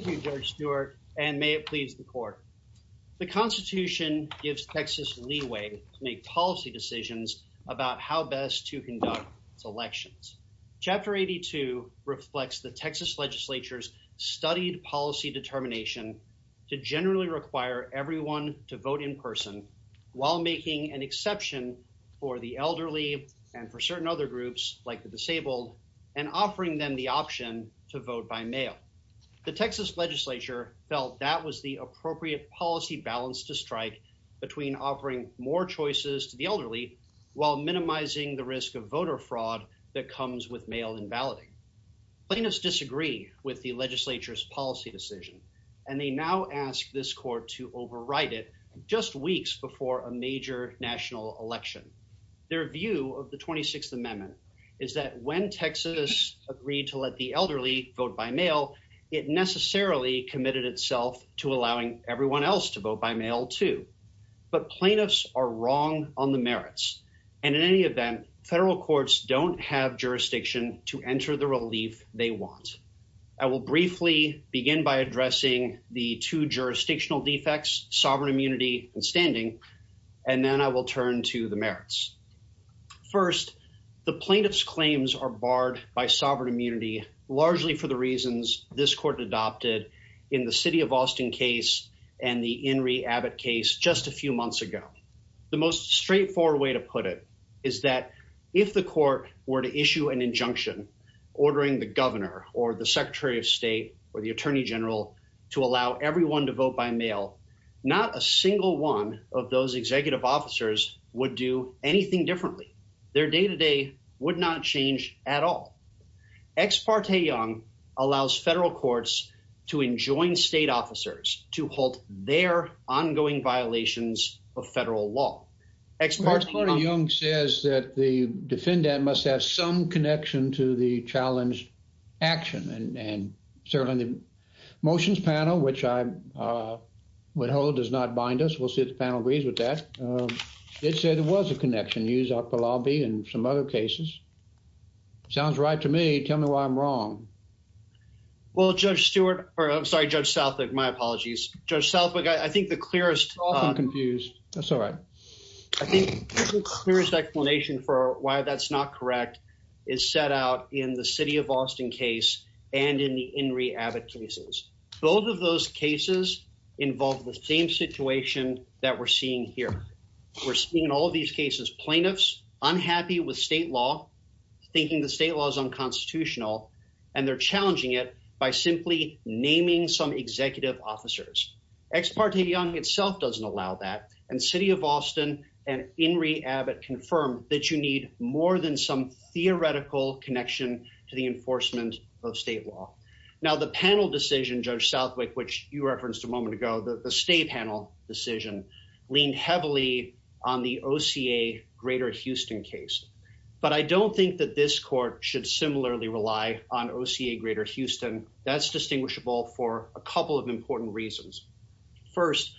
Thank you, George Stewart, and may it please the court. The Constitution gives Texas leeway to make policy decisions about how best to conduct its elections. Chapter 82 reflects the Texas legislature's studied policy determination to generally require everyone to vote in person while making an exception for the elderly and for certain other groups, like the disabled, and offering them the option to vote by mail. The Texas legislature felt that was the appropriate policy balance to strike between offering more choices to the elderly while minimizing the risk of voter fraud that comes with mail and balloting. Plaintiffs disagree with the legislature's policy decision, and they now ask this court to override it just weeks before a major national election. Their view of the 26th Amendment is that when Texas agreed to let the elderly vote by mail, it necessarily committed itself to allowing everyone else to vote by mail, too. But plaintiffs are wrong on the merits, and in any event, federal courts don't have jurisdiction to enter the relief they want. I will briefly begin by addressing the two jurisdictional defects, sovereign immunity and standing, and then I will turn to the merits. First, the plaintiffs' claims are barred by sovereign immunity largely for the reasons this court adopted in the City of Austin case and the Inree Abbott case just a few months ago. The most straightforward way to put it is that if the court were to issue an injunction ordering the governor or the secretary of state or the attorney general to allow everyone to vote by mail, not a single one of those executive officers would do anything differently. Their day-to-day would not change at all. Ex parte Young allows federal courts to enjoin state officers to halt their ongoing violations of federal law. Ex parte Young says that the defendant must have some connection to the challenged action, and certainly the motions panel, which I would hold does not bind us. We'll see if the panel agrees with that. It said there was a connection used out of the lobby in some other cases. Sounds right to me. Tell me why I'm wrong. Well, Judge Stewart, or I'm sorry, Judge Southwick, my apologies. Judge Southwick, I think the clearest... I'm confused. That's all right. I think the clearest explanation for why that's not correct is set out in the City of Austin case and in the Inree Abbott cases. Both of those cases involve the same situation that we're seeing here. We're seeing in all of these cases plaintiffs unhappy with state law, thinking the state law is unconstitutional, and they're challenging it by simply naming some executive officers. Ex parte Young itself doesn't allow that, and City of Austin and Inree Abbott confirm that you need more than some theoretical connection to the enforcement of state law. Now, the panel decision, Judge Southwick, which you referenced a moment ago, the state panel decision, leaned heavily on the OCA Greater Houston case. But I don't think that this court should similarly rely on OCA Greater Houston. That's distinguishable for a couple of important reasons. First,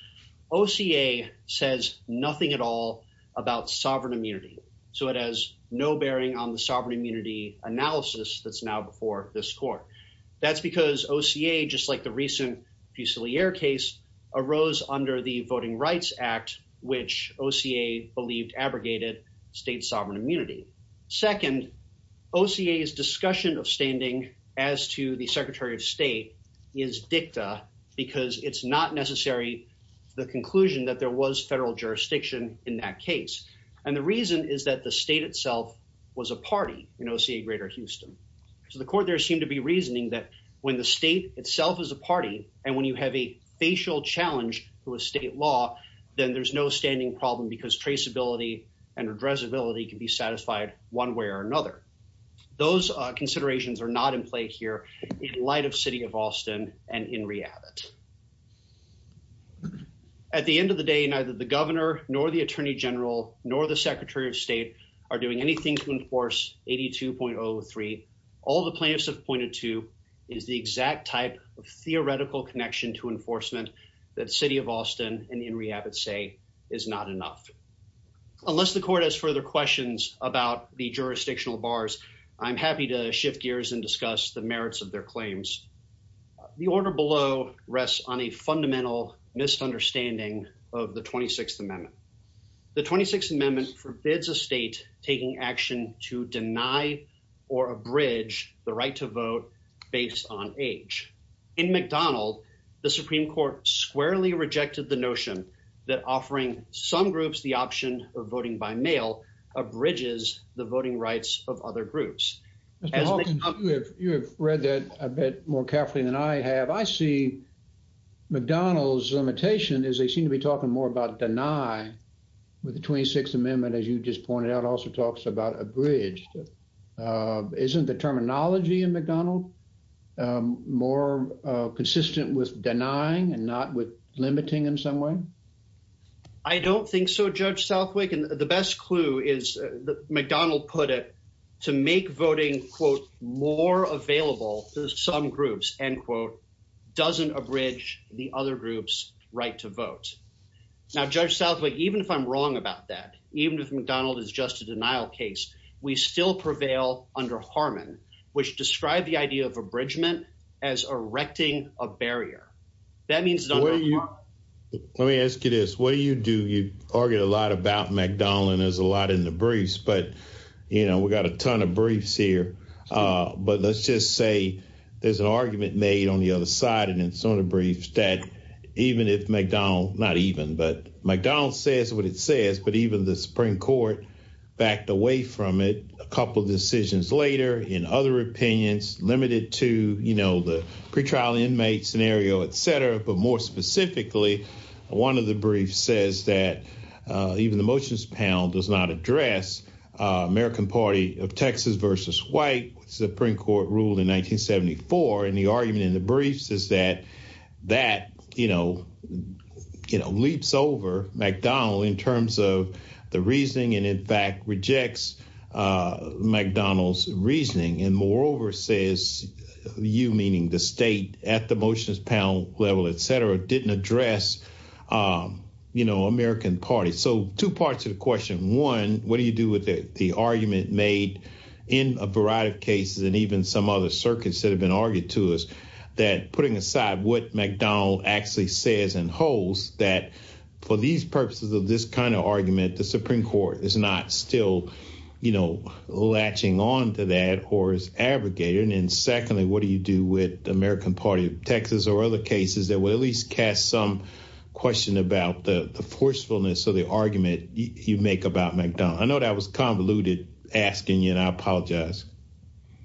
OCA says nothing at all about sovereign immunity. So it has no bearing on the sovereign immunity analysis that's now before this court. That's because OCA, just like the recent Fusilier case, arose under the Voting Rights Act, which OCA believed abrogated state sovereign immunity. Second, OCA's discussion of standing as to the Secretary of State is dicta because it's not necessary, the conclusion that there was federal jurisdiction in that case. And the reason is that the state itself was a party in OCA Greater Houston. So the court there seemed to be reasoning that when the state itself is a party, and when you have a facial challenge to a state law, then there's no standing problem because traceability and addressability can be satisfied one way or another. Those considerations are not in play here in light of City of Austin and in Rehabit. At the end of the day, neither the governor, nor the Attorney General, nor the Secretary of State are doing anything to enforce 82.03. All the plaintiffs have pointed to is the exact type of theoretical connection to enforcement that City of Austin and in Rehabit say is not enough. Unless the court has further questions about the jurisdictional bars, I'm happy to shift gears and discuss the merits of their claims. The order below rests on a fundamental misunderstanding of the 26th Amendment. The 26th Amendment forbids a state taking action to deny or abridge the right to vote based on age. In McDonald, the Supreme Court squarely rejected the notion that offering some groups the option of voting by mail abridges the voting rights of other groups. Mr. Hawkins, you have read that a bit more carefully than I have. I see McDonald's limitation as they seem to be talking more about deny with the 26th Amendment, as you just pointed out, also talks about abridged. Isn't the terminology in McDonald more consistent with denying and not with limiting in some way? I don't think so, Judge Southwick, and the best clue is that McDonald put it to make voting, quote, more available to some groups, end quote, doesn't abridge the other group's right to vote. Now, Judge Southwick, even if I'm wrong about that, even if McDonald is just a denial case, we still prevail under Harmon, which described the idea of abridgment as erecting a barrier. That means- Let me ask you this, what do you do? You argue a lot about McDonald and there's a lot in the briefs, but, you know, we've got a ton of briefs here, but let's just say there's an argument made on the other side and in some of the briefs that even if McDonald, not even, but McDonald says what it says, but even the Supreme Court backed away from it a couple of decisions later in other opinions limited to, you know, the pretrial inmate scenario, et cetera, but more specifically, one of the briefs says that even the motions panel does not address American Party of Texas versus white, which the Supreme Court ruled in 1974. And the argument in the briefs is that, that, you know, you know, leaps over McDonald in terms of the reasoning and in fact rejects McDonald's reasoning. And moreover says you, meaning the state at the motions panel level, et cetera, didn't address, you know, American Party. So two parts of the question, one, what do you do with the argument made in a variety of cases and even some other circuits that have been argued to us that putting aside what McDonald actually says and holds that for these purposes of this kind of argument, the Supreme Court is not still, you know, latching on to that or is abrogating. And secondly, what do you do with American Party of Texas or other cases that will at least cast some question about the forcefulness of the argument you make about McDonald? I know that was convoluted asking, you know, I apologize.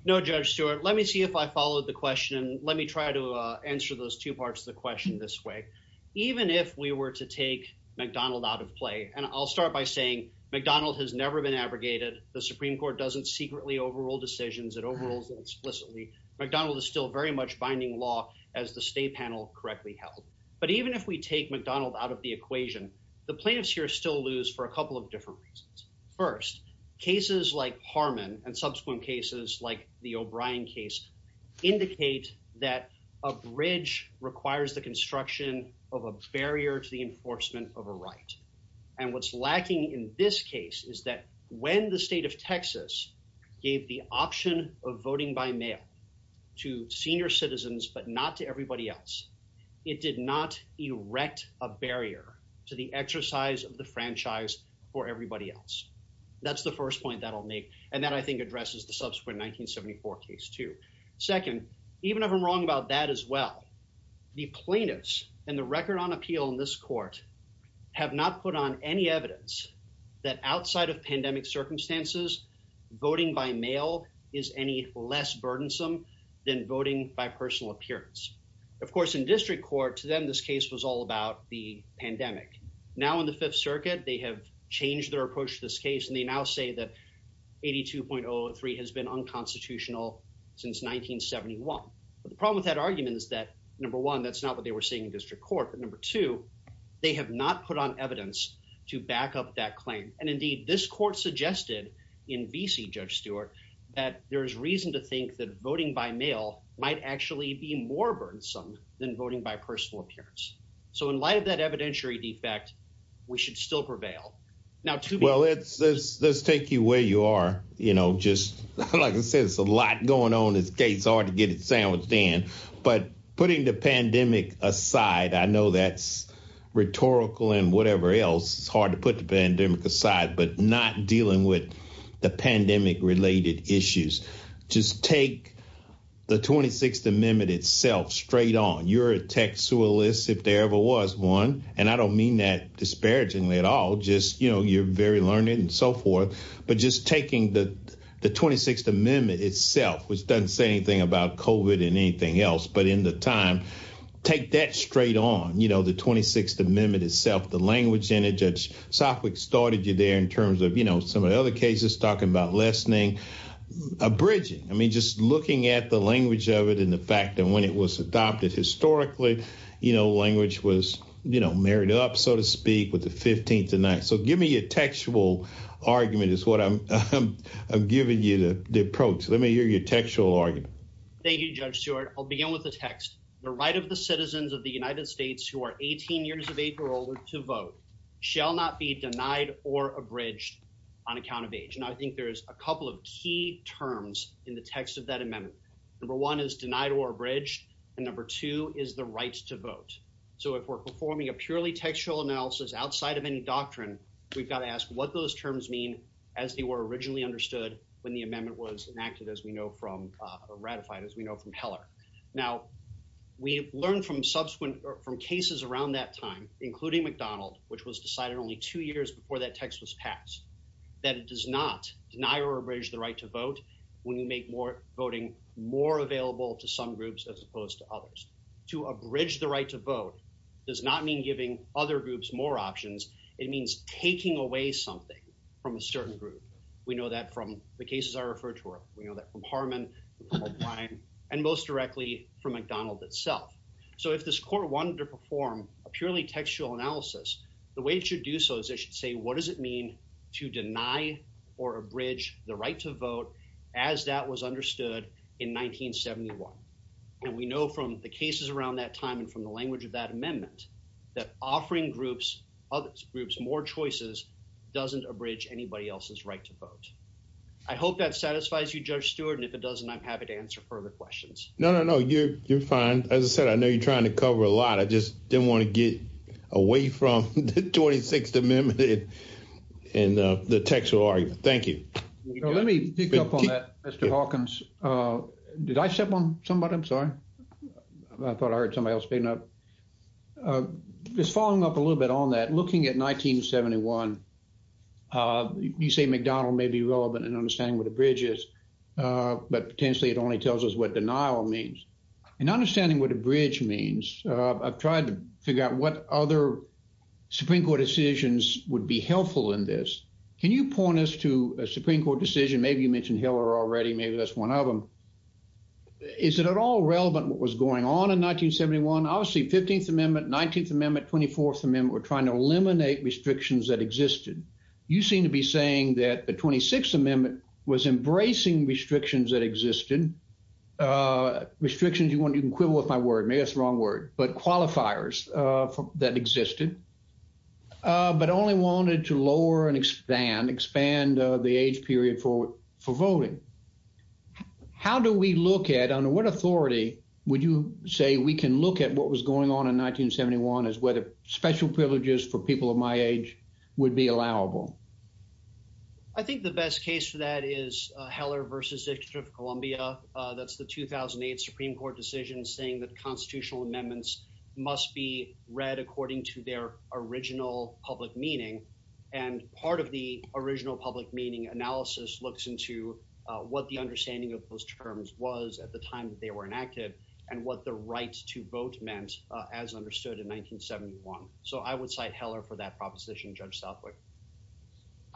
No, Judge Stewart. Let me see if I followed the question. Let me try to answer those two parts of the question this way. Even if we were to take McDonald out of play, and I'll start by saying McDonald has never been abrogated. The Supreme Court doesn't secretly overrule decisions, it overrules them explicitly. McDonald is still very much binding law as the state panel correctly held. But even if we take McDonald out of the equation, the plaintiffs here still lose for a couple of different reasons. First, cases like Harmon and subsequent cases like the O'Brien case indicate that a bridge requires the construction of a barrier to the enforcement of a right. And what's lacking in this case is that when the state of Texas gave the option of voting by mail to senior citizens, but not to everybody else, it did not erect a barrier to the exercise of the franchise for everybody else. That's the first point that I'll make. And that I think addresses the subsequent 1974 case too. Second, even if I'm wrong about that as well, the plaintiffs and the record on appeal in this court have not put on any evidence that outside of pandemic circumstances, voting by mail is any less burdensome than voting by personal appearance. Of course, in district court to them, this case was all about the pandemic. Now in the fifth circuit, they have changed their approach to this case, and they now say that 82.03 has been unconstitutional since 1971. But the problem with that argument is that number one, that's not what they were saying in district court. But number two, they have not put on evidence to back up that claim. And indeed, this court suggested in VC, Judge Stewart, that there is reason to think that voting by mail might actually be more burdensome than voting by personal appearance. So in light of that evidentiary defect, we should still prevail. Now to be- Well, let's take you where you are. You know, just like I said, it's a lot going on this case, hard to get it sandwiched in. But putting the pandemic aside, I know that's rhetorical and whatever else, it's hard to put the pandemic aside, but not dealing with the pandemic related issues. Just take the 26th Amendment itself straight on. You're a tech sualist, if there ever was one. And I don't mean that disparagingly at all, just, you know, you're very learned and so forth. But just taking the 26th Amendment itself, which doesn't say anything about COVID and anything else. But in the time, take that straight on, you know, the 26th Amendment itself, the language in it. Judge Sopwith started you there in terms of, you know, some of the other cases talking about lessening, abridging, I mean, just looking at the language of it and the fact that when it was adopted historically, you know, language was, you know, married up, so to speak, with the 15th Amendment. So give me your textual argument is what I'm giving you the approach. Let me hear your textual argument. Thank you, Judge Stewart. I'll begin with the text. The right of the citizens of the United States who are 18 years of age or older to vote shall not be denied or abridged on account of age. And I think there's a couple of key terms in the text of that amendment. Number one is denied or abridged, and number two is the right to vote. So if we're performing a purely textual analysis outside of any doctrine, we've got to ask what those terms mean as they were originally understood when the amendment was enacted, as we know from, uh, ratified, as we know from Heller. Now, we've learned from subsequent, from cases around that time, including McDonald, which was decided only two years before that text was passed, that it does not deny or abridge the right to vote when you make more voting more available to some groups as opposed to others. To abridge the right to vote does not mean giving other groups more options. It means taking away something from a certain group. We know that from the cases I referred to, we know that from Harman and most directly from McDonald itself. So if this court wanted to perform a purely textual analysis, the way it should do so is it should say, what does it mean to deny or abridge the right to vote as that was understood in 1971? And we know from the cases around that time and from the language of that amendment, that offering groups, other groups, more choices doesn't abridge anybody else's right to vote. I hope that satisfies you, Judge Stewart, and if it doesn't, I'm happy to answer further questions. No, no, no. You're, you're fine. As I said, I know you're trying to cover a lot. I just didn't want to get away from the 26th Amendment and the textual argument. Thank you. Let me pick up on that, Mr. Hawkins. Did I step on somebody? I'm sorry. I thought I heard somebody else speaking up. Just following up a little bit on that, looking at 1971, you say McDonald may be relevant in understanding what abridge is, but potentially it only tells us what denial means. In understanding what abridge means, I've tried to figure out what other Supreme Court decisions would be helpful in this. Can you point us to a Supreme Court decision? Maybe you mentioned Hiller already. Maybe that's one of them. Is it at all relevant what was going on in 1971? Obviously, 15th Amendment, 19th Amendment, 24th Amendment were trying to eliminate restrictions that existed. You seem to be saying that the 26th Amendment was embracing restrictions that existed, restrictions you want to equivalent with my word, maybe it's the wrong word, but qualifiers that existed, but only wanted to lower and expand, expand the age period for voting. How do we look at, under what authority would you say we can look at what was going on in 1971? I think the best case for that is Hiller versus District of Columbia. That's the 2008 Supreme Court decision saying that constitutional amendments must be read according to their original public meaning. And part of the original public meaning analysis looks into what the understanding of those terms was at the time that they were enacted and what the right to vote meant as understood in 1971. So I would cite Hiller for that proposition, Judge Southwick.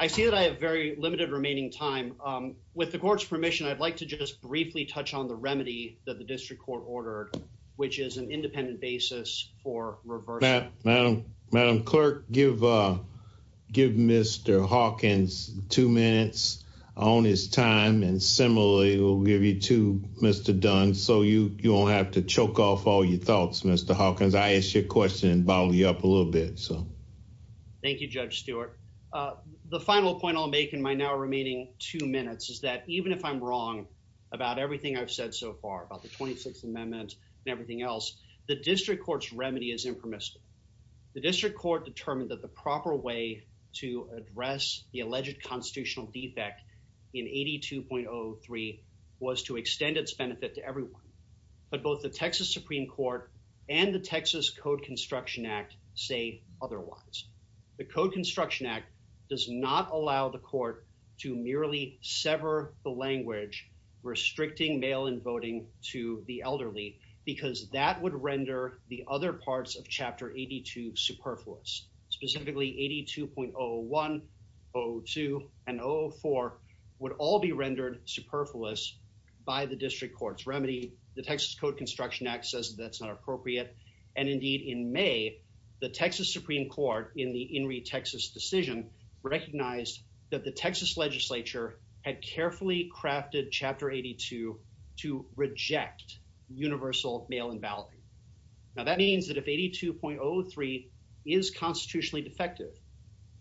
I see that I have very limited remaining time. With the court's permission, I'd like to just briefly touch on the remedy that the district court ordered, which is an independent basis for reversal. Madam Clerk, give Mr. Hawkins two minutes on his time and similarly, we'll give you to Mr. Dunn so you won't have to choke off all your thoughts, Mr. Hawkins. I asked your question and followed you up a little bit. Thank you, Judge Stewart. The final point I'll make in my now remaining two minutes is that even if I'm wrong about everything I've said so far, about the 26th Amendment and everything else, the district court's remedy is impermissible. The district court determined that the proper way to address the alleged constitutional defect in 82.03 was to extend its benefit to everyone. But both the Texas Supreme Court and the Texas Code Construction Act say otherwise. The Code Construction Act does not allow the court to merely sever the language restricting mail-in voting to the elderly because that would render the other parts of Chapter 82 superfluous. Specifically, 82.01, 02, and 04 would all be rendered superfluous by the district court's remedy. The Texas Code Construction Act says that's not appropriate and indeed, in May, the Texas Supreme Court in the In re Texas decision recognized that the Texas legislature had carefully crafted Chapter 82 to reject universal mail-in balloting. Now, that means that if 82.03 is constitutionally defective,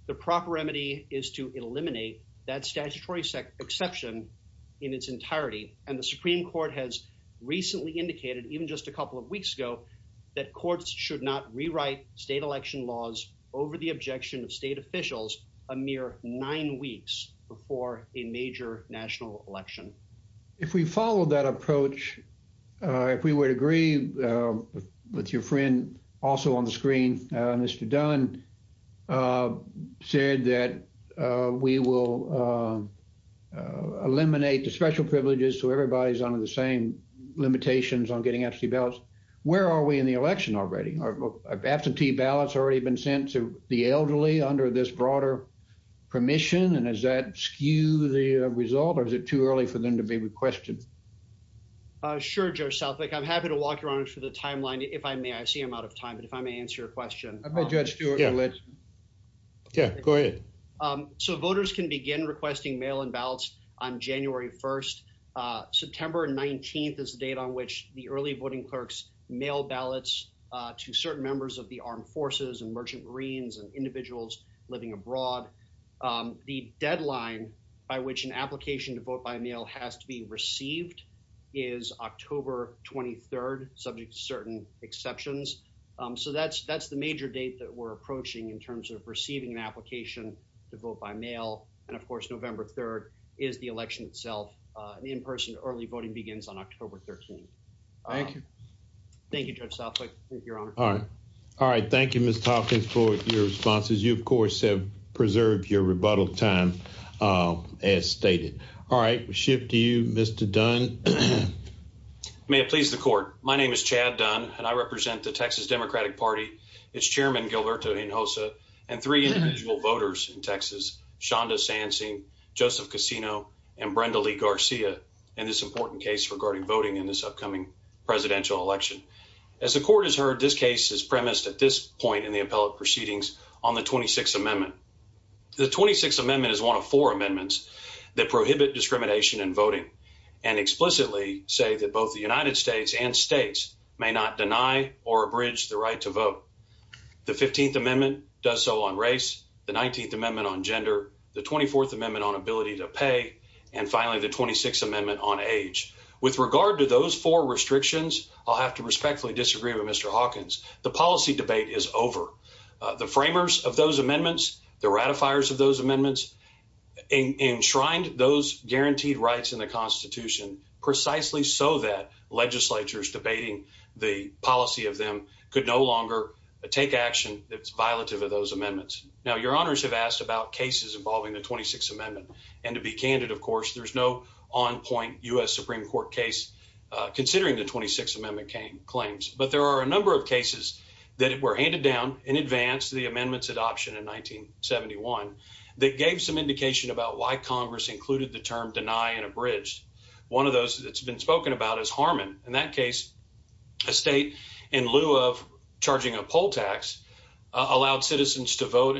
the proper remedy is to eliminate that statutory exception in its entirety. And the Supreme Court has recently indicated, even just a couple of weeks ago, that courts should not rewrite state election laws over the objection of state officials a mere nine weeks before a major national election. If we follow that approach, if we would agree with your friend also on the screen, Mr. Dunn, said that we will eliminate the special privileges so everybody's under the same limitations on getting absentee ballots, where are we in the election already? Absentee ballots have already been sent to the elderly under this broader permission and does that skew the result or is it too early for them to be requested? Sure, Judge Southwick. I'm happy to walk you around for the timeline if I may. I see I'm out of time, but if I may answer your question. I'll let Judge Stewart do it. Yeah, go ahead. So voters can begin requesting mail-in ballots on January 1st. September 19th is the date on which the early voting clerks mail ballots to certain members of the armed forces and merchant marines and individuals living abroad. The deadline by which an application to vote by mail has to be received is October 23rd, subject to certain exceptions. So that's the major date that we're approaching in terms of receiving an application to vote by mail. And of course, November 3rd is the election itself and in-person early voting begins on October 13th. Thank you. Thank you, Judge Southwick. Thank you, Your Honor. All right. All right. Thank you, Mr. Hopkins, for your responses. You, of course, have preserved your rebuttal time as stated. All right. We shift to you, Mr. Dunn. May it please the court. Thank you, Your Honor. My name is Chad Dunn and I represent the Texas Democratic Party, its chairman, Gilberto Hinojosa, and three individual voters in Texas, Shonda Sansing, Joseph Casino, and Brenda Lee Garcia in this important case regarding voting in this upcoming presidential election. As the court has heard, this case is premised at this point in the appellate proceedings on the 26th Amendment. The 26th Amendment is one of four amendments that prohibit discrimination in voting and explicitly say that both the United States and states may not deny or abridge the right to vote. The 15th Amendment does so on race, the 19th Amendment on gender, the 24th Amendment on ability to pay, and finally, the 26th Amendment on age. With regard to those four restrictions, I'll have to respectfully disagree with Mr. Hawkins. The policy debate is over. The framers of those amendments, the ratifiers of those amendments, enshrined those guaranteed rights in the Constitution precisely so that legislatures debating the policy of them could no longer take action that's violative of those amendments. Now, your honors have asked about cases involving the 26th Amendment, and to be candid, of course, there's no on-point U.S. Supreme Court case considering the 26th Amendment claims. But there are a number of cases that were handed down in advance of the amendment's adoption in 1971 that gave some indication about why Congress included the term deny and abridge. One of those that's been spoken about is Harmon. In that case, a state, in lieu of charging a poll tax, allowed citizens to vote,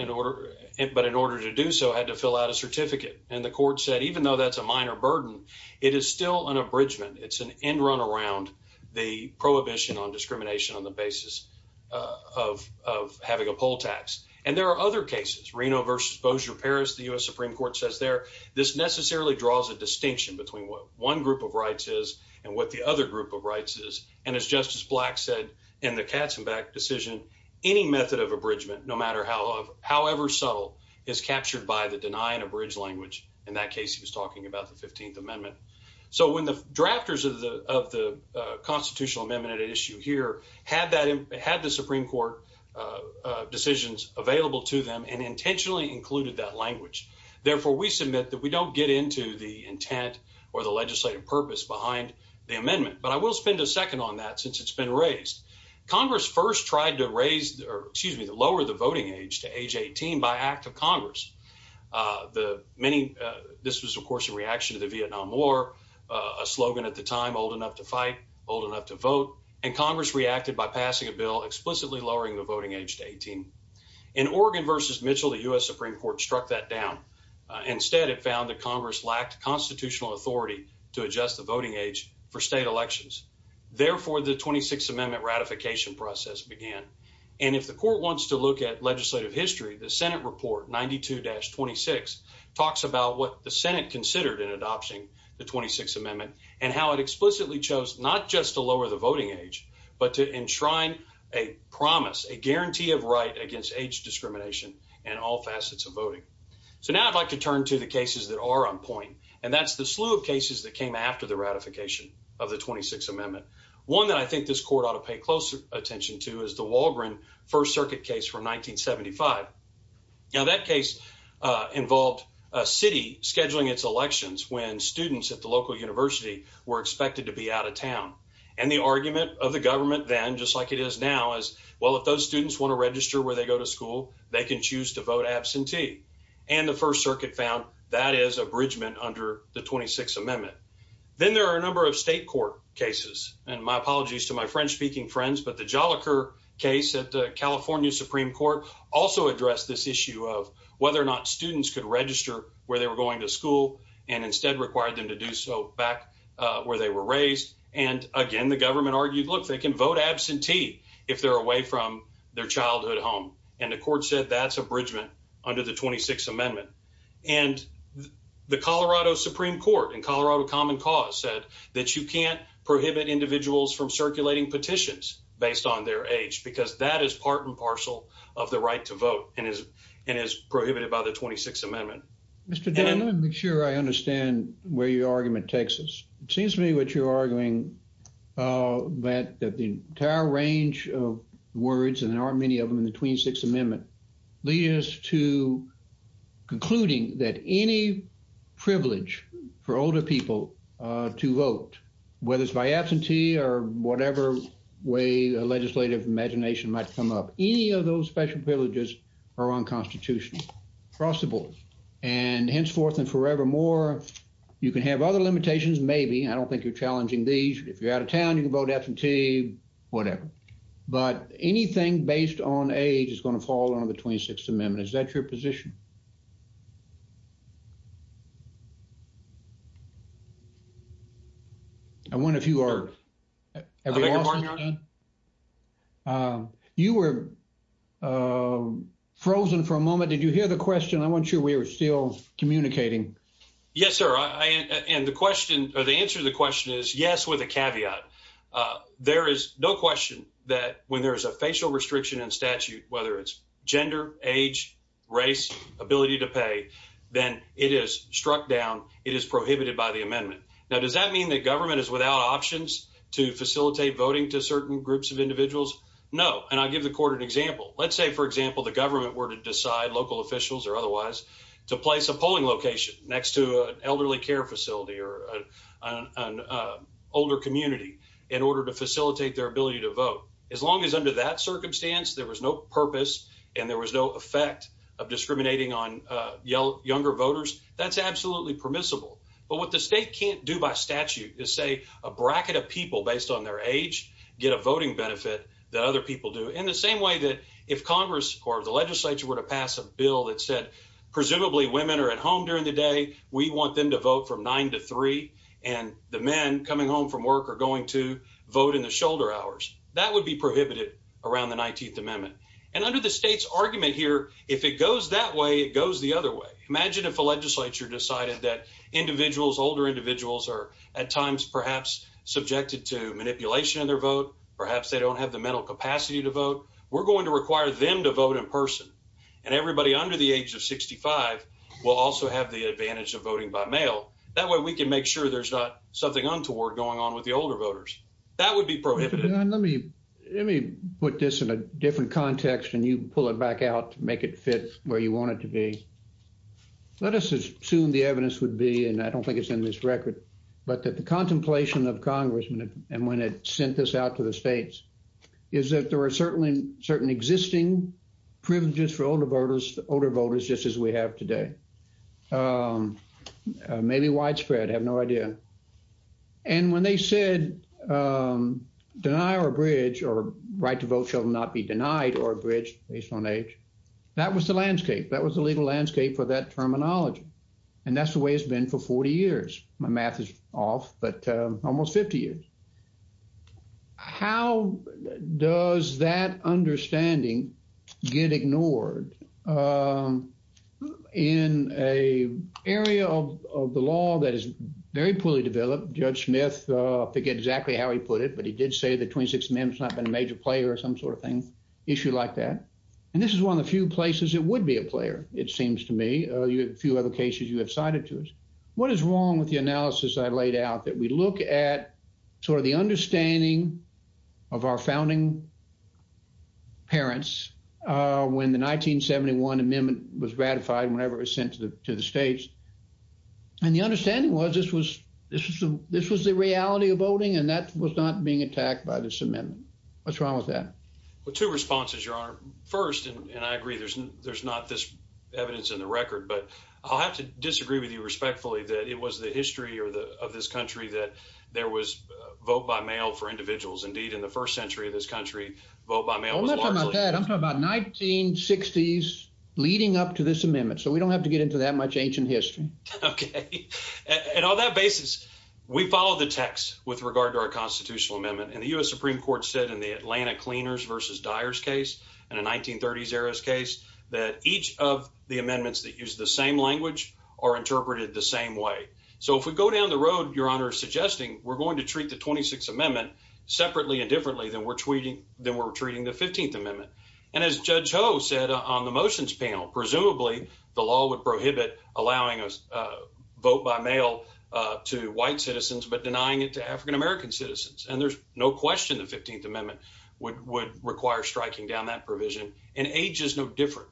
but in order to do so, had to fill out a certificate. And the court said, even though that's a minor burden, it is still an abridgement. It's an end run around the prohibition on discrimination on the basis of having a poll tax. And there are other cases, Reno versus Bossier-Paris, the U.S. Supreme Court says there, this necessarily draws a distinction between what one group of rights is and what the other group of rights is. And as Justice Black said in the Katzenbach decision, any method of abridgement, no matter how, however subtle, is captured by the deny and abridge language. In that case, he was talking about the 15th Amendment. So when the drafters of the Constitutional Amendment at issue here had the Supreme Court decisions available to them and intentionally included that language, therefore, we submit that we don't get into the intent or the legislative purpose behind the amendment. But I will spend a second on that since it's been raised. Congress first tried to lower the voting age to age 18 by act of Congress. This was, of course, in reaction to the Vietnam War, a slogan at the time, old enough to fight, old enough to vote. And Congress reacted by passing a bill explicitly lowering the voting age to 18. In Oregon versus Mitchell, the U.S. Supreme Court struck that down. Instead, it found that Congress lacked constitutional authority to adjust the voting age for state elections. Therefore, the 26th Amendment ratification process began. And if the court wants to look at legislative history, the Senate report 92-26 talks about what the Senate considered in adopting the 26th Amendment and how it explicitly chose not just to lower the voting age, but to enshrine a promise, a guarantee of right against age discrimination in all facets of voting. So now I'd like to turn to the cases that are on point. And that's the slew of cases that came after the ratification of the 26th Amendment. One that I think this court ought to pay closer attention to is the Walgren First Circuit case from 1975. Now, that case involved a city scheduling its elections when students at the local university were expected to be out of town. And the argument of the government then, just like it is now, is, well, if those students want to register where they go to school, they can choose to vote absentee. And the First Circuit found that is abridgment under the 26th Amendment. Then there are a number of state court cases. And my apologies to my French-speaking friends, but the Jolicoeur case at the California Supreme Court also addressed this issue of whether or not students could register where they were going to school and instead required them to do so back where they were raised. And again, the government argued, look, they can vote absentee if they're away from their childhood home. And the court said that's abridgment under the 26th Amendment. And the Colorado Supreme Court and Colorado Common Cause said that you can't prohibit individuals from circulating petitions based on their age, because that is part and parcel of the right to vote and is prohibited by the 26th Amendment. Mr. Dan, let me make sure I understand where your argument takes us. It seems to me what you're arguing that the entire range of words, and there aren't many of them in the 26th Amendment, leads to concluding that any privilege for older people to vote, whether it's by absentee or whatever way a legislative imagination might come up, any of those special privileges are unconstitutional, crossable, and henceforth and forevermore. You can have other limitations, maybe. I don't think you're challenging these. If you're out of town, you can vote absentee, whatever. But anything based on age is going to fall under the 26th Amendment. Is that your position? I wonder if you are. You were frozen for a moment. Did you hear the question? I wasn't sure we were still communicating. Yes, sir. And the answer to the question is yes, with a caveat. There is no question that when there is a facial restriction in statute, whether it's gender, age, race, ability to pay, then it is struck down. It is prohibited by the amendment. Now, does that mean that government is without options to facilitate voting to certain groups of individuals? No. And I'll give the court an example. Let's say, for example, the government were to decide, local officials or otherwise, to place a polling location next to an elderly care facility or an older community in order to facilitate their ability to vote. As long as under that circumstance, there was no purpose and there was no effect of discriminating on younger voters, that's absolutely permissible. But what the state can't do by statute is say a bracket of people based on their age get a voting benefit that other people do in the same way that if Congress or the legislature were to pass a bill that said presumably women are at home during the day, we want them to vote from 9 to 3 and the men coming home from work are going to vote in the shoulder hours, that would be prohibited around the 19th Amendment. And under the state's argument here, if it goes that way, it goes the other way. Imagine if a legislature decided that individuals, older individuals, are at times perhaps subjected to manipulation in their vote, perhaps they don't have the mental capacity to vote. We're going to require them to vote in person, and everybody under the age of 65 will also have the advantage of voting by mail. That way, we can make sure there's not something untoward going on with the older voters. That would be prohibited. Let me put this in a different context and you pull it back out to make it fit where you want it to be. Let us assume the evidence would be, and I don't think it's in this record, but that the contemplation of Congressmen and when it sent this out to the states is that there are certainly certain existing privileges for older voters, older voters, just as we have today. Maybe widespread, I have no idea. And when they said, deny or abridge or right to vote shall not be denied or abridged based on age, that was the landscape, that was the legal landscape for that terminology. And that's the way it's been for 40 years. My math is off, but almost 50 years. How does that understanding get ignored in an area of the law that is very poorly developed? Judge Smith, I forget exactly how he put it, but he did say the 26th Amendment's not been a major player or some sort of thing, issue like that. And this is one of the few places it would be a player, it seems to me. A few other cases you have cited to us. What is wrong with the analysis I laid out, that we look at sort of the understanding of our founding parents when the 1971 Amendment was ratified, whenever it was sent to the states. And the understanding was this was the reality of voting and that was not being attacked by this amendment. What's wrong with that? Well, two responses, Your Honor. First, and I agree, there's not this evidence in the record, but I'll have to disagree with you respectfully that it was the history of this country that there was vote by mail for individuals. Indeed, in the first century of this country, vote by mail was largely... I'm not talking about that. I'm talking about 1960s leading up to this amendment. So we don't have to get into that much ancient history. OK. And on that basis, we follow the text with regard to our constitutional amendment. And the U.S. Supreme Court said in the Atlanta Cleaners versus Dyers case and a 1930s era case that each of the amendments that use the same language are interpreted the same way. So if we go down the road, Your Honor, suggesting we're going to treat the 26th Amendment separately and differently than we're treating the 15th Amendment. And as Judge Ho said on the motions panel, presumably the law would prohibit allowing a vote by mail to white citizens, but denying it to African-American citizens. And there's no question the 15th Amendment would require striking down that provision and age is no different.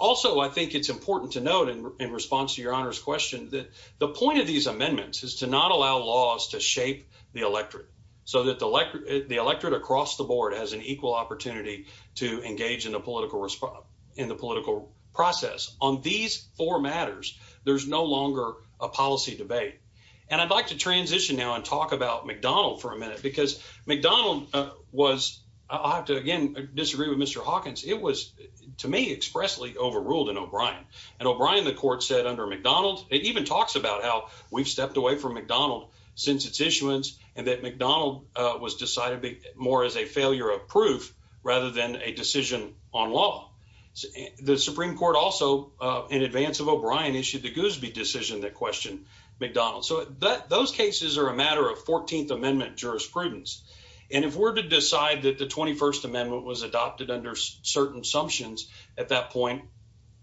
Also, I think it's important to note in response to Your Honor's question that the point of these amendments is to not allow laws to shape the electorate so that the electorate across the board has an equal opportunity to engage in the political process. On these four matters, there's no longer a policy debate. And I'd like to transition now and talk about McDonald for a minute, because McDonald was I'll have to again disagree with Mr. Hawkins. It was to me expressly overruled in O'Brien and O'Brien. The court said under McDonald, it even talks about how we've stepped away from McDonald since its issuance and that McDonald was decided more as a failure of proof rather than a decision on law. The Supreme Court also, in advance of O'Brien, issued the Goosby decision that questioned McDonald. So those cases are a matter of 14th Amendment jurisprudence. And if we're to decide that the 21st Amendment was adopted under certain assumptions at that point,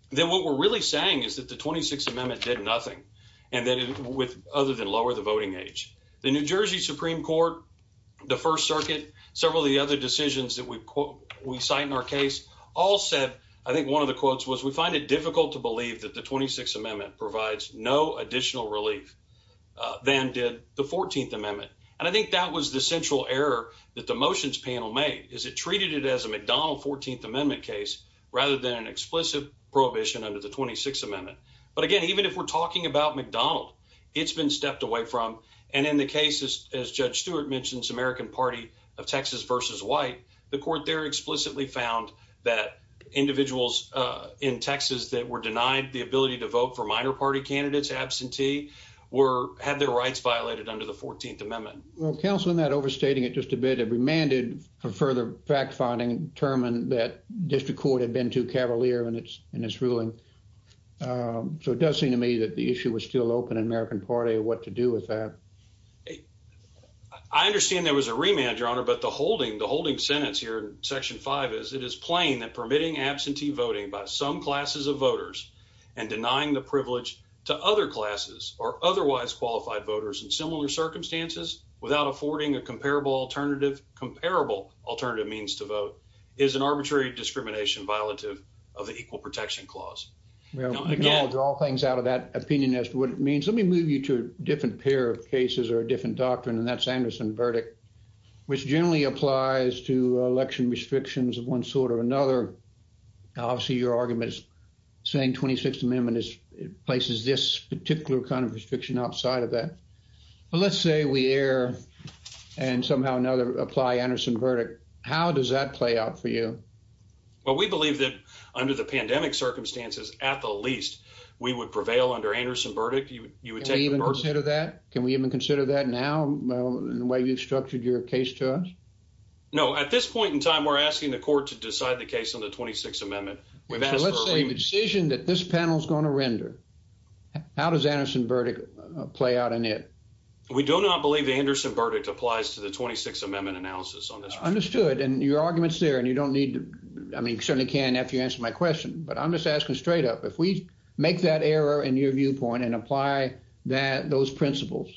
then what we're really saying is that the 26th Amendment did nothing other than lower the voting age. The New Jersey Supreme Court, the First Circuit, several of the other decisions that we we cite in our case all said, I think one of the quotes was, we find it difficult to believe that the 26th Amendment provides no additional relief than did the 14th Amendment. And I think that was the central error that the motions panel made is it treated it as a McDonald 14th Amendment case rather than an explicit prohibition under the 26th Amendment. But again, even if we're talking about McDonald, it's been stepped away from. And in the case, as Judge Stewart mentions, American Party of Texas versus white, the court there explicitly found that individuals in Texas that were denied the ability to vote for minor party candidates absentee were had their rights violated under the 14th Amendment. Well, counseling that overstating it just a bit of remanded for further fact finding, determined that district court had been too cavalier in its in its ruling. So it does seem to me that the issue was still open in American Party of what to do with that. I understand there was a remand, your honor, but the holding the holding sentence here in Section five is it is plain that permitting absentee voting by some classes of voters and denying the privilege to other classes or otherwise qualified voters in similar circumstances. Without affording a comparable alternative comparable alternative means to vote is an arbitrary discrimination, violative of the Equal Protection Clause. We don't acknowledge all things out of that opinion as to what it means. Let me move you to a different pair of cases or a different doctrine. And that's Anderson verdict, which generally applies to election restrictions of one sort or another. Obviously, your argument is saying 26th Amendment is places this particular kind of restriction outside of that. Well, let's say we air and somehow another apply Anderson verdict. How does that play out for you? Well, we believe that under the pandemic circumstances, at the least, we would prevail under Anderson verdict. You would you would even consider that. Can we even consider that now in the way you've structured your case to us? No, at this point in time, we're asking the court to decide the case on the 26th Amendment. We've had a decision that this panel is going to render. How does Anderson verdict play out in it? We do not believe the Anderson verdict applies to the 26th Amendment analysis on this. Understood. And your arguments there. And you don't need to. I mean, you certainly can if you answer my question. But I'm just asking straight up if we make that error in your viewpoint and apply that those principles.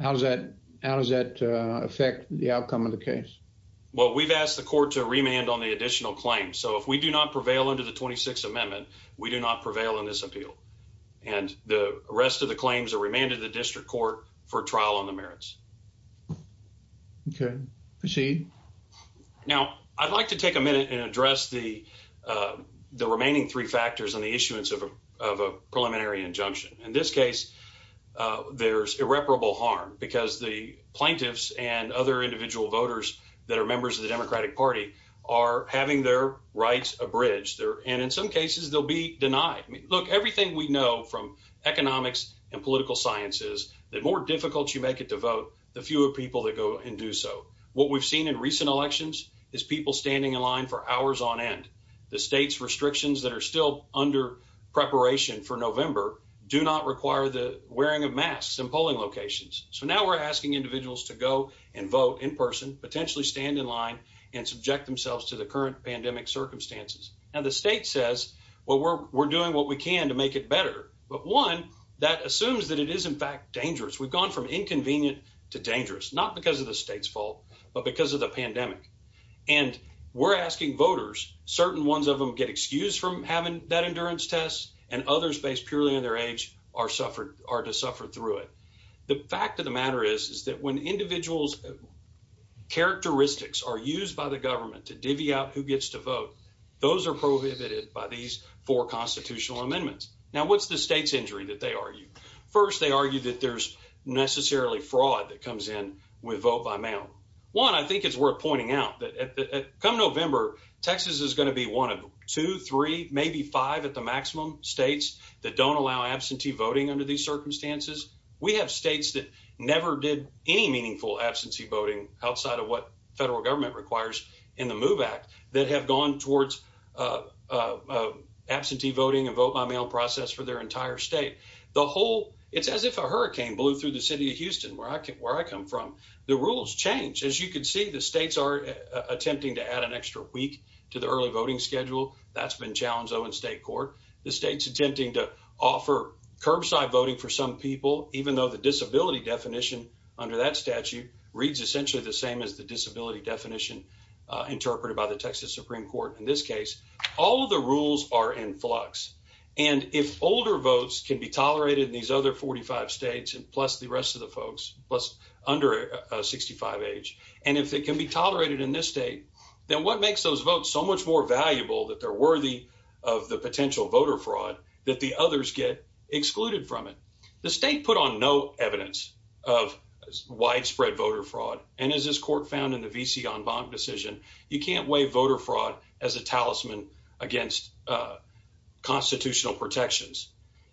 How does that how does that affect the outcome of the case? Well, we've asked the court to remand on the additional claim. So if we do not prevail under the 26th Amendment, we do not prevail in this appeal. And the rest of the claims are remanded to the district court for trial on the merits. OK, proceed. Now, I'd like to take a minute and address the the remaining three factors on the issuance of a preliminary injunction. In this case, there's irreparable harm because the plaintiffs and other individual voters that are members of the Democratic Party are having their rights abridged there. And in some cases, they'll be denied. Look, everything we know from economics and political science is that more difficult you make it to vote, the fewer people that go and do so. What we've seen in recent elections is people standing in line for hours on end. The state's restrictions that are still under preparation for November do not require the wearing of masks and polling locations. So now we're asking individuals to go and vote in person, potentially stand in line and subject themselves to the current pandemic circumstances. Now, the state says, well, we're doing what we can to make it better. But one that assumes that it is, in fact, dangerous. We've gone from inconvenient to dangerous, not because of the state's fault, but because of the pandemic. And we're asking voters, certain ones of them get excused from having that endurance test and others based purely on their age are suffered or to suffer through it. The fact of the matter is, is that when individuals' characteristics are used by the government to divvy out who gets to vote, those are prohibited by these four constitutional amendments. Now, what's the state's injury that they argue? First, they argue that there's necessarily fraud that comes in with vote by mail. One, I think it's worth pointing out that come November, Texas is going to be one of two, three, maybe five at the maximum states that don't allow absentee voting under these circumstances. We have states that never did any meaningful absentee voting outside of what federal government requires in the MOVE Act that have gone towards absentee voting and vote by mail process for their entire state. The whole, it's as if a hurricane blew through the city of Houston, where I come from. The rules change. As you can see, the states are attempting to add an extra week to the early voting schedule. That's been challenged, though, in state court. The state's attempting to offer curbside voting for some people, even though the disability definition under that statute reads essentially the same as the disability definition interpreted by the Texas Supreme Court. In this case, all of the rules are in flux. And if older votes can be tolerated in these other 45 states, plus the rest of the folks, plus under 65 age, and if it can be tolerated in this state, then what makes those votes so much more valuable that they're worthy of the potential? Voter fraud that the others get excluded from it. The state put on no evidence of widespread voter fraud. And as this court found in the V.C. en banc decision, you can't weigh voter fraud as a talisman against constitutional protections.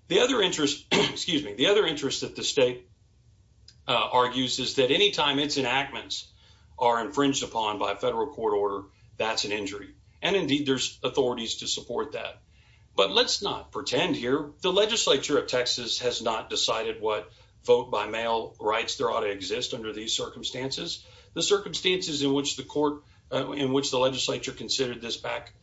The other interest, excuse me, the other interest that the state argues is that any time its enactments are infringed upon by a federal court order, that's an injury. And indeed, there's authorities to support that. But let's not pretend here the legislature of Texas has not decided what vote by mail rights there ought to exist under these circumstances. The circumstances in which the court in which the legislature considered this back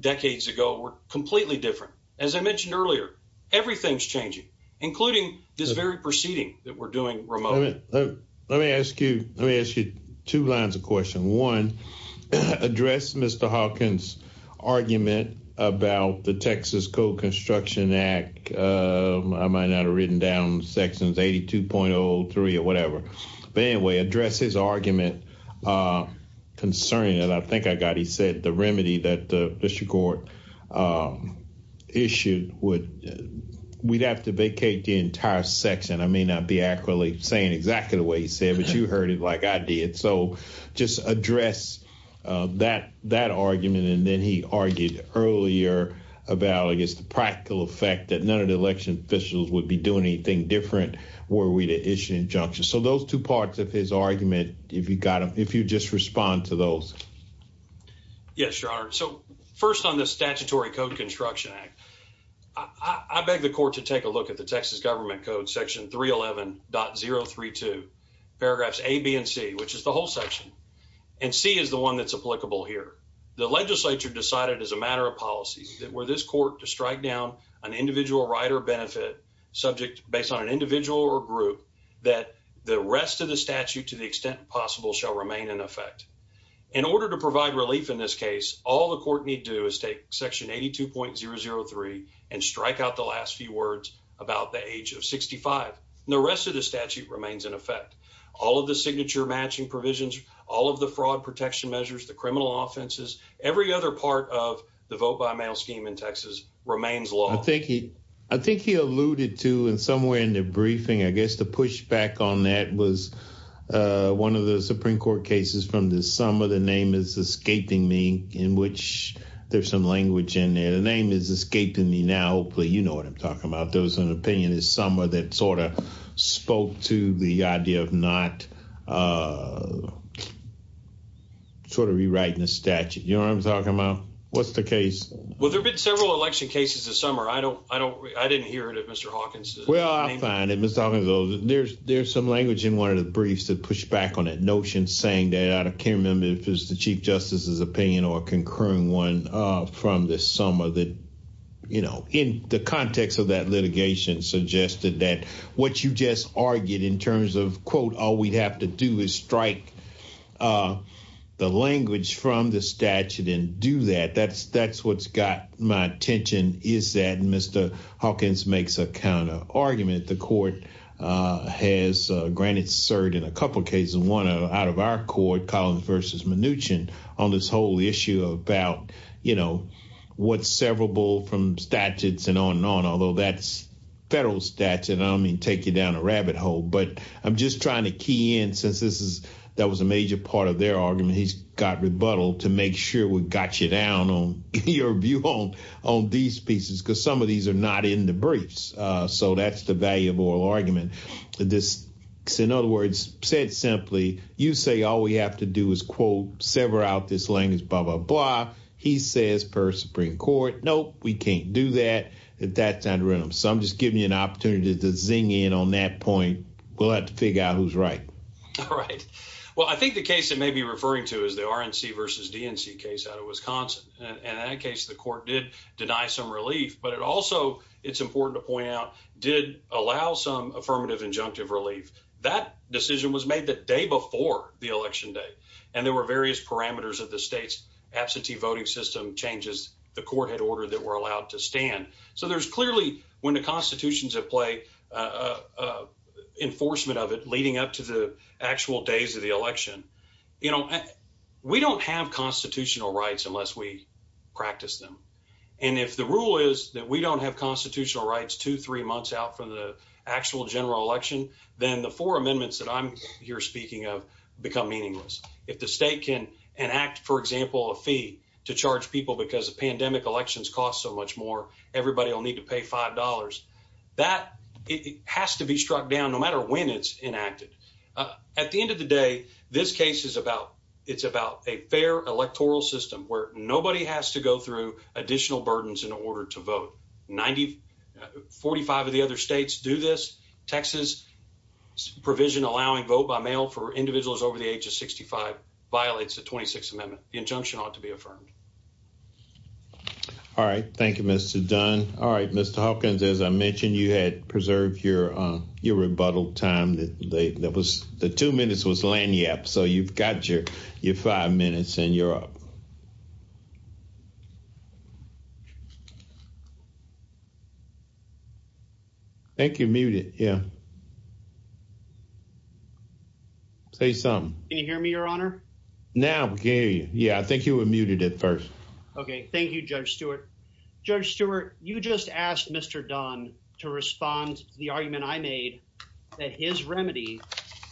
decades ago were completely different. As I mentioned earlier, everything's changing, including this very proceeding that we're doing. But let me ask you, let me ask you two lines of question one address Mr. Hawkins argument about the Texas Code Construction Act. I might not have written down sections eighty two point oh three or whatever. But anyway, address his argument concerning that. I think I got he said the remedy that the district court issued would we'd have to vacate the entire section. I may not be accurately saying exactly the way he said, but you heard it like I did. So just address that that argument. And then he argued earlier about, I guess, the practical effect that none of the election officials would be doing anything different were we to issue injunctions. So those two parts of his argument, if you got if you just respond to those. Yes, your honor. So first on the statutory Code Construction Act, I beg the court to take a look at the Texas government code section. Three eleven zero three two paragraphs A, B and C, which is the whole section. And C is the one that's applicable here. The legislature decided as a matter of policy that were this court to strike down an individual right or benefit subject based on an individual or group that the rest of the statute, to the extent possible, shall remain in effect in order to provide relief. In this case, all the court need do is take section eighty two point zero zero three and strike out the last few words about the age of sixty five. The rest of the statute remains in effect. All of the signature matching provisions, all of the fraud protection measures, the criminal offenses, every other part of the vote by mail scheme in Texas remains law. Thank you. I think he alluded to and somewhere in the briefing, I guess the pushback on that was one of the Supreme Court cases from this summer. The name is escaping me in which there's some language in there. The name is escaping me now. Hopefully, you know what I'm talking about. There was an opinion this summer that sort of spoke to the idea of not sort of rewriting the statute. You know what I'm talking about? What's the case? Well, there have been several election cases this summer. I don't I don't I didn't hear it at Mr. Hawkins. Well, I find it. Mr. Hawkins, though, there's there's some language in one of the briefs that push back on that notion, saying that I can't remember if it's the chief justice's opinion or a concurring one from this summer that, you know, in the context of that litigation suggested that what you just argued in terms of, quote, all we'd have to do is strike the language from the statute and do that. That's that's what's got my attention is that Mr. Hawkins makes a counter argument. The court has granted cert in a couple of cases, one out of our court, Collins versus Mnuchin on this whole issue about, you know, what's severable from statutes and on and on. Although that's federal statute, I don't mean take you down a rabbit hole, but I'm just trying to key in since this is that was a major part of their argument. He's got rebuttal to make sure we got you down on your view on on these pieces, because some of these are not in the briefs. So that's the value of oral argument. This is, in other words, said simply, you say all we have to do is, quote, sever out this language, blah, blah, blah. He says per Supreme Court. No, we can't do that at that time. So I'm just giving you an opportunity to zing in on that point. We'll have to figure out who's right. All right. Well, I think the case that may be referring to is the RNC versus DNC case out of Wisconsin, and in that case, the court did deny some relief. But it also it's important to point out, did allow some affirmative injunctive relief. That decision was made the day before the election day, and there were various parameters of the state's absentee voting system changes the court had ordered that were allowed to stand. So there's clearly when the Constitution's at play, a enforcement of it leading up to the actual days of the election. You know, we don't have constitutional rights unless we practice them. And if the rule is that we don't have constitutional rights two, three months out from the actual general election, then the four amendments that I'm here speaking of become meaningless. If the state can enact, for example, a fee to charge people because the pandemic elections cost so much more, everybody will need to pay five dollars. That has to be struck down no matter when it's enacted. At the end of the day, this case is about it's about a fair electoral system where nobody has to go through additional burdens in order to vote. Ninety forty five of the other states do this. Texas provision allowing vote by mail for individuals over the age of sixty five violates the twenty six amendment. The injunction ought to be affirmed. All right, thank you, Mr. Dunn. All right, Mr. Hawkins, as I mentioned, you had preserved your your rebuttal time that was the two minutes was Lanyap. So you've got your your five minutes and you're up. Thank you, muted. Yeah. Say something. Can you hear me, your honor? Now, yeah, I think you were muted at first. OK, thank you, Judge Stewart. Judge Stewart, you just asked Mr. Dunn to respond to the argument I made that his remedy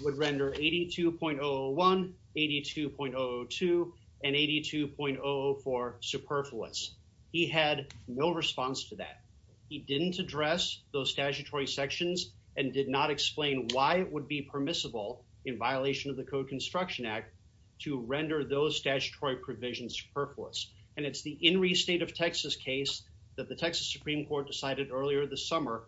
would render eighty two point one, eighty two point oh two and eighty two point oh four superfluous. He had no response to that. He didn't address those statutory sections and did not explain why it would be permissible in violation of the Code Construction Act to render those statutory provisions superfluous. And it's the state of Texas case that the Texas Supreme Court decided earlier this summer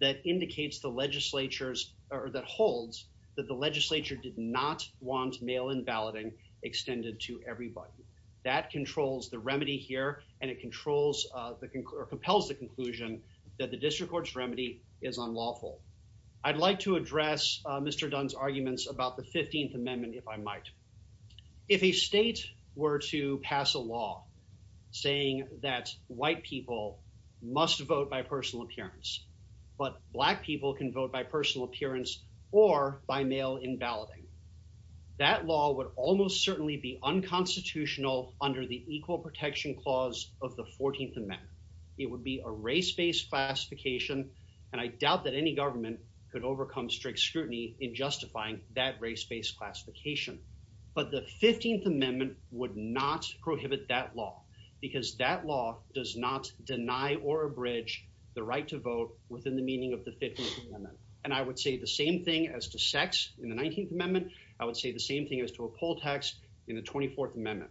that indicates the legislature's or that holds that the legislature did not want mail in balloting extended to everybody. That controls the remedy here and it controls or compels the conclusion that the district court's remedy is unlawful. I'd like to address Mr. Dunn's arguments about the 15th Amendment, if I might. If a state were to pass a law saying that white people must vote by personal appearance, but black people can vote by personal appearance or by mail in balloting, that law would almost certainly be unconstitutional under the Equal Protection Clause of the 14th Amendment. It would be a race-based classification, and I doubt that any government could overcome strict scrutiny in justifying that race-based classification. But the 15th Amendment would not prohibit that law because that law does not deny or abridge the right to vote within the meaning of the 15th Amendment. And I would say the same thing as to sex in the 19th Amendment. I would say the same thing as to a poll tax in the 24th Amendment.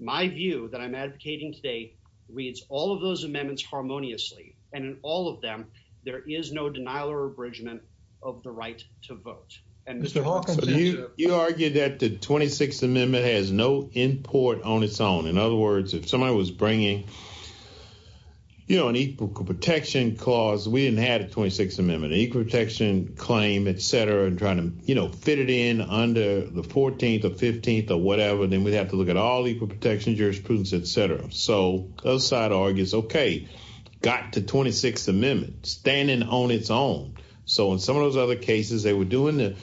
My view that I'm advocating today reads all of those amendments harmoniously. And in all of them, there is no denial or abridgment of the right to vote. And Mr. Hawkins, you argued that the 26th Amendment has no import on its own. In other words, if somebody was bringing, you know, an equal protection clause, we didn't have a 26th Amendment, an equal protection claim, et cetera, and trying to, you know, fit it in under the 14th or 15th or whatever, then we'd have to look at all equal protection jurisprudence, et cetera. So the other side argues, OK, got the 26th Amendment standing on its own. So in some of those other cases, they were doing the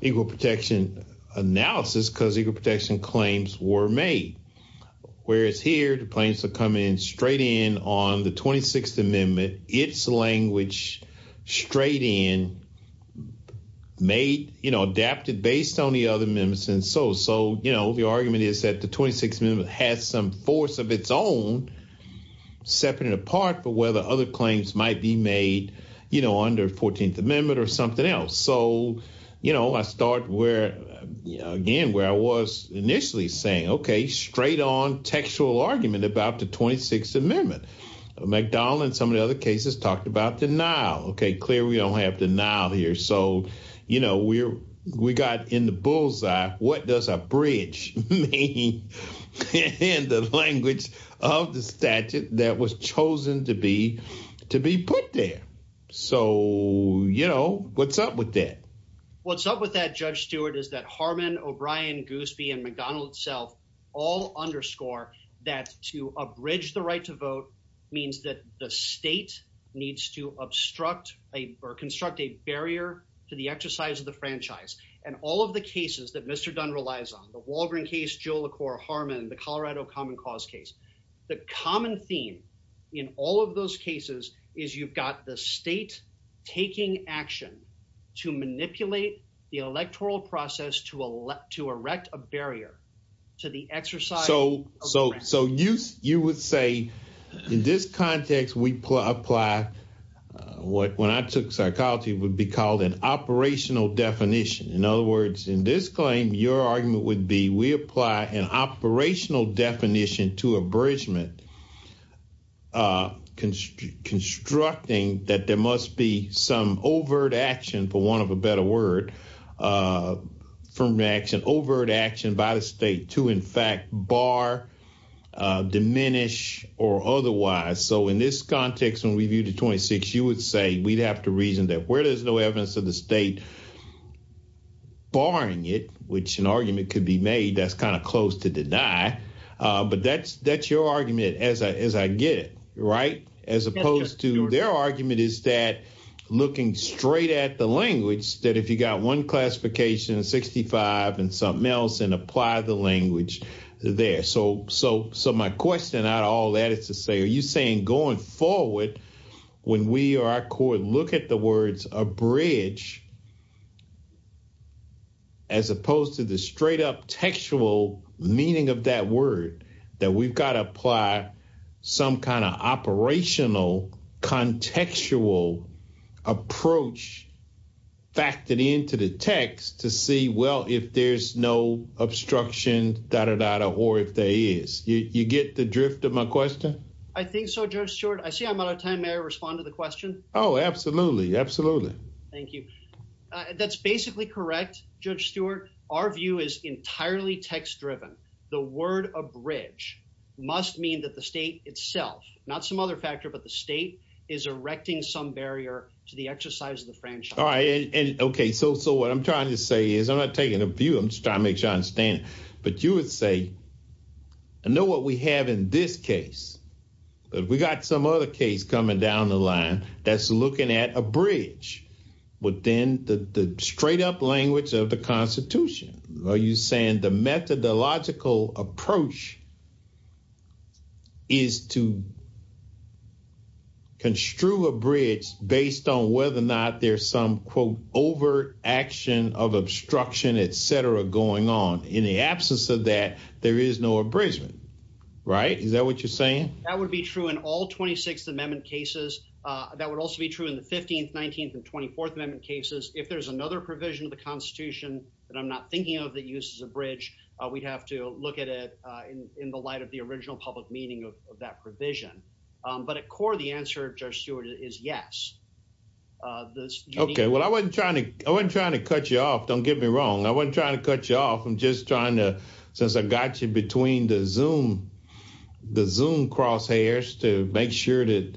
equal protection analysis because equal protection claims were made. Whereas here, the claims are coming straight in on the 26th Amendment, its language straight in, made, you know, adapted based on the other amendments. And so so, you know, the argument is that the 26th Amendment has some force of its own, separate and apart for whether other claims might be made, you know, under 14th Amendment or something else. So, you know, I start where, again, where I was initially saying, OK, straight on textual argument about the 26th Amendment. McDonald and some of the other cases talked about denial. OK, clear, we don't have denial here. So, you know, we're we got in the bullseye, what does a bridge mean in the language of the statute that was chosen to be to be put there? So, you know, what's up with that? What's up with that, Judge Stewart, is that Harmon, O'Brien, Goosby and McDonald itself all underscore that to abridge the right to vote means that the state needs to obstruct or construct a barrier to the exercise of the franchise. And all of the cases that Mr. So so so you you would say in this context, we apply what when I took psychology would be called an operational definition. In other words, in this claim, your argument would be we apply an operational definition to abridgement, construct and obstruct a barrier to the exercise of the franchise. So you would be saying that there must be some overt action, for want of a better word, from action, overt action by the state to, in fact, bar, diminish or otherwise. So in this context, when we view the twenty six, you would say we'd have to reason that where there's no evidence of the state barring it, which an argument could be made, that's kind of close to deny. But that's that's your argument. As I as I get it right, as opposed to their argument, is that looking straight at the language that if you got one classification, 65 and something else and apply the language there. So so so my question out all that is to say, are you saying going forward when we are court, look at the words abridge. As opposed to the straight up textual meaning of that word, that we've got to apply some kind of operational contextual approach factored into the text to see, well, if there's no obstruction that or that or if there is you get the drift of my question, I think so, just short. I see I'm out of time. May I respond to the question? Oh, absolutely. Absolutely. Thank you. That's basically correct. Judge Stewart, our view is entirely text driven. The word abridge must mean that the state itself, not some other factor, but the state is erecting some barrier to the exercise of the franchise. All right. And OK, so so what I'm trying to say is I'm not taking a view. But you would say. I know what we have in this case, but we got some other case coming down the line that's looking at a bridge, but then the straight up language of the Constitution, are you saying the methodological approach? Is to. Construe a bridge based on whether or not there's some quote over action of obstruction, et cetera, going on in the absence of that, there is no abridgement, right? Is that what you're saying? That would be true in all 26th Amendment cases. That would also be true in the 15th, 19th and 24th Amendment cases. If there's another provision of the Constitution that I'm not thinking of that uses a bridge, we'd have to look at it in the light of the original public meaning of that provision. But at core, the answer, Judge Stewart, is yes. OK, well, I wasn't trying to I wasn't trying to cut you off. Don't get me wrong. I wasn't trying to cut you off. I'm just trying to since I got you between the Zoom the Zoom crosshairs to make sure that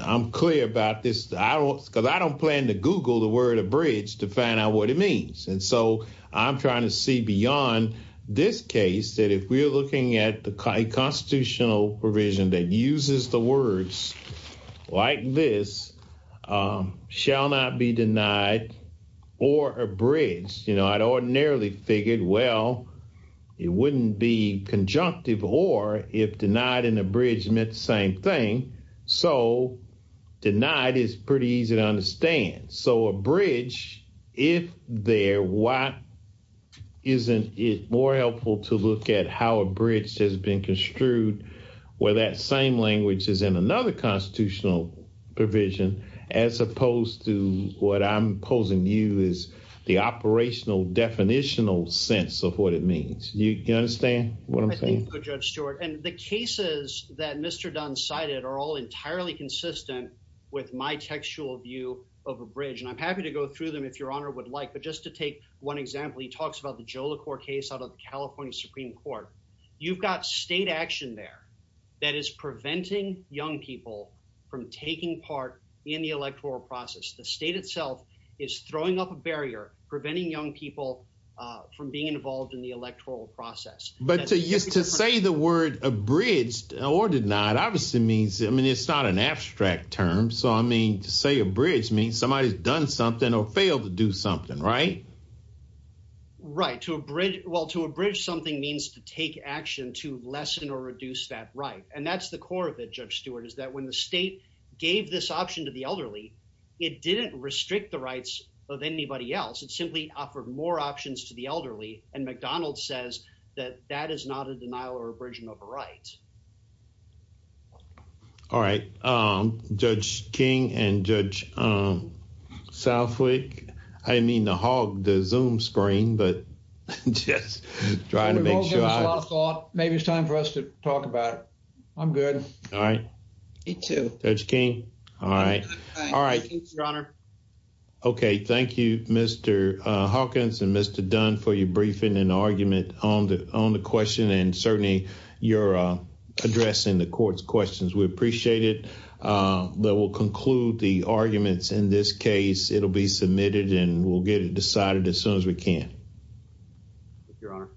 I'm clear about this, I don't because I don't plan to Google the word abridged to find out what it means. And so I'm trying to see beyond this case that if we're looking at the constitutional provision that uses the words like this shall not be denied or abridged. You know, I'd ordinarily figured, well, it wouldn't be conjunctive or if denied and abridged meant the same thing. So denied is pretty easy to understand. So abridged, if they're what, isn't it more helpful to look at how abridged has been construed where that same language is in another constitutional provision as opposed to what I'm saying. I'm just trying to get a more foundational, definitional sense of what it means. You understand what I'm saying, Judge Stewart, and the cases that Mr. Dunn cited are all entirely consistent with my textual view of abridged. And I'm happy to go through them if your honor would like. But just to take one example, he talks about the Jolicoeur case out of California Supreme Court. You've got state action there that is preventing young people from taking part in the electoral process. The state itself is throwing up a barrier preventing young people from being involved in the electoral process. But just to say the word abridged or denied obviously means, I mean, it's not an abstract term. So, I mean, to say abridged means somebody's done something or failed to do something, right? Right. Well, to abridge something means to take action to lessen or reduce that right. And that's the core of it, Judge Stewart, is that when the state gave this option to the elderly, it didn't restrict the rights of anybody else. It simply offered more options to the elderly. And McDonald says that that is not a denial or abridging of a right. All right. Judge King and Judge Southwick, I mean, the hog, the Zoom screen, but just trying to make sure. Maybe it's time for us to talk about it. I'm good. All right. To Judge King. All right. All right. Your Honor. OK, thank you, Mr. Hawkins and Mr. Dunn for your briefing and argument on the on the question. And certainly you're addressing the court's questions. We appreciate it. We'll conclude the arguments in this case. It'll be submitted and we'll get it decided as soon as we can. Your Honor.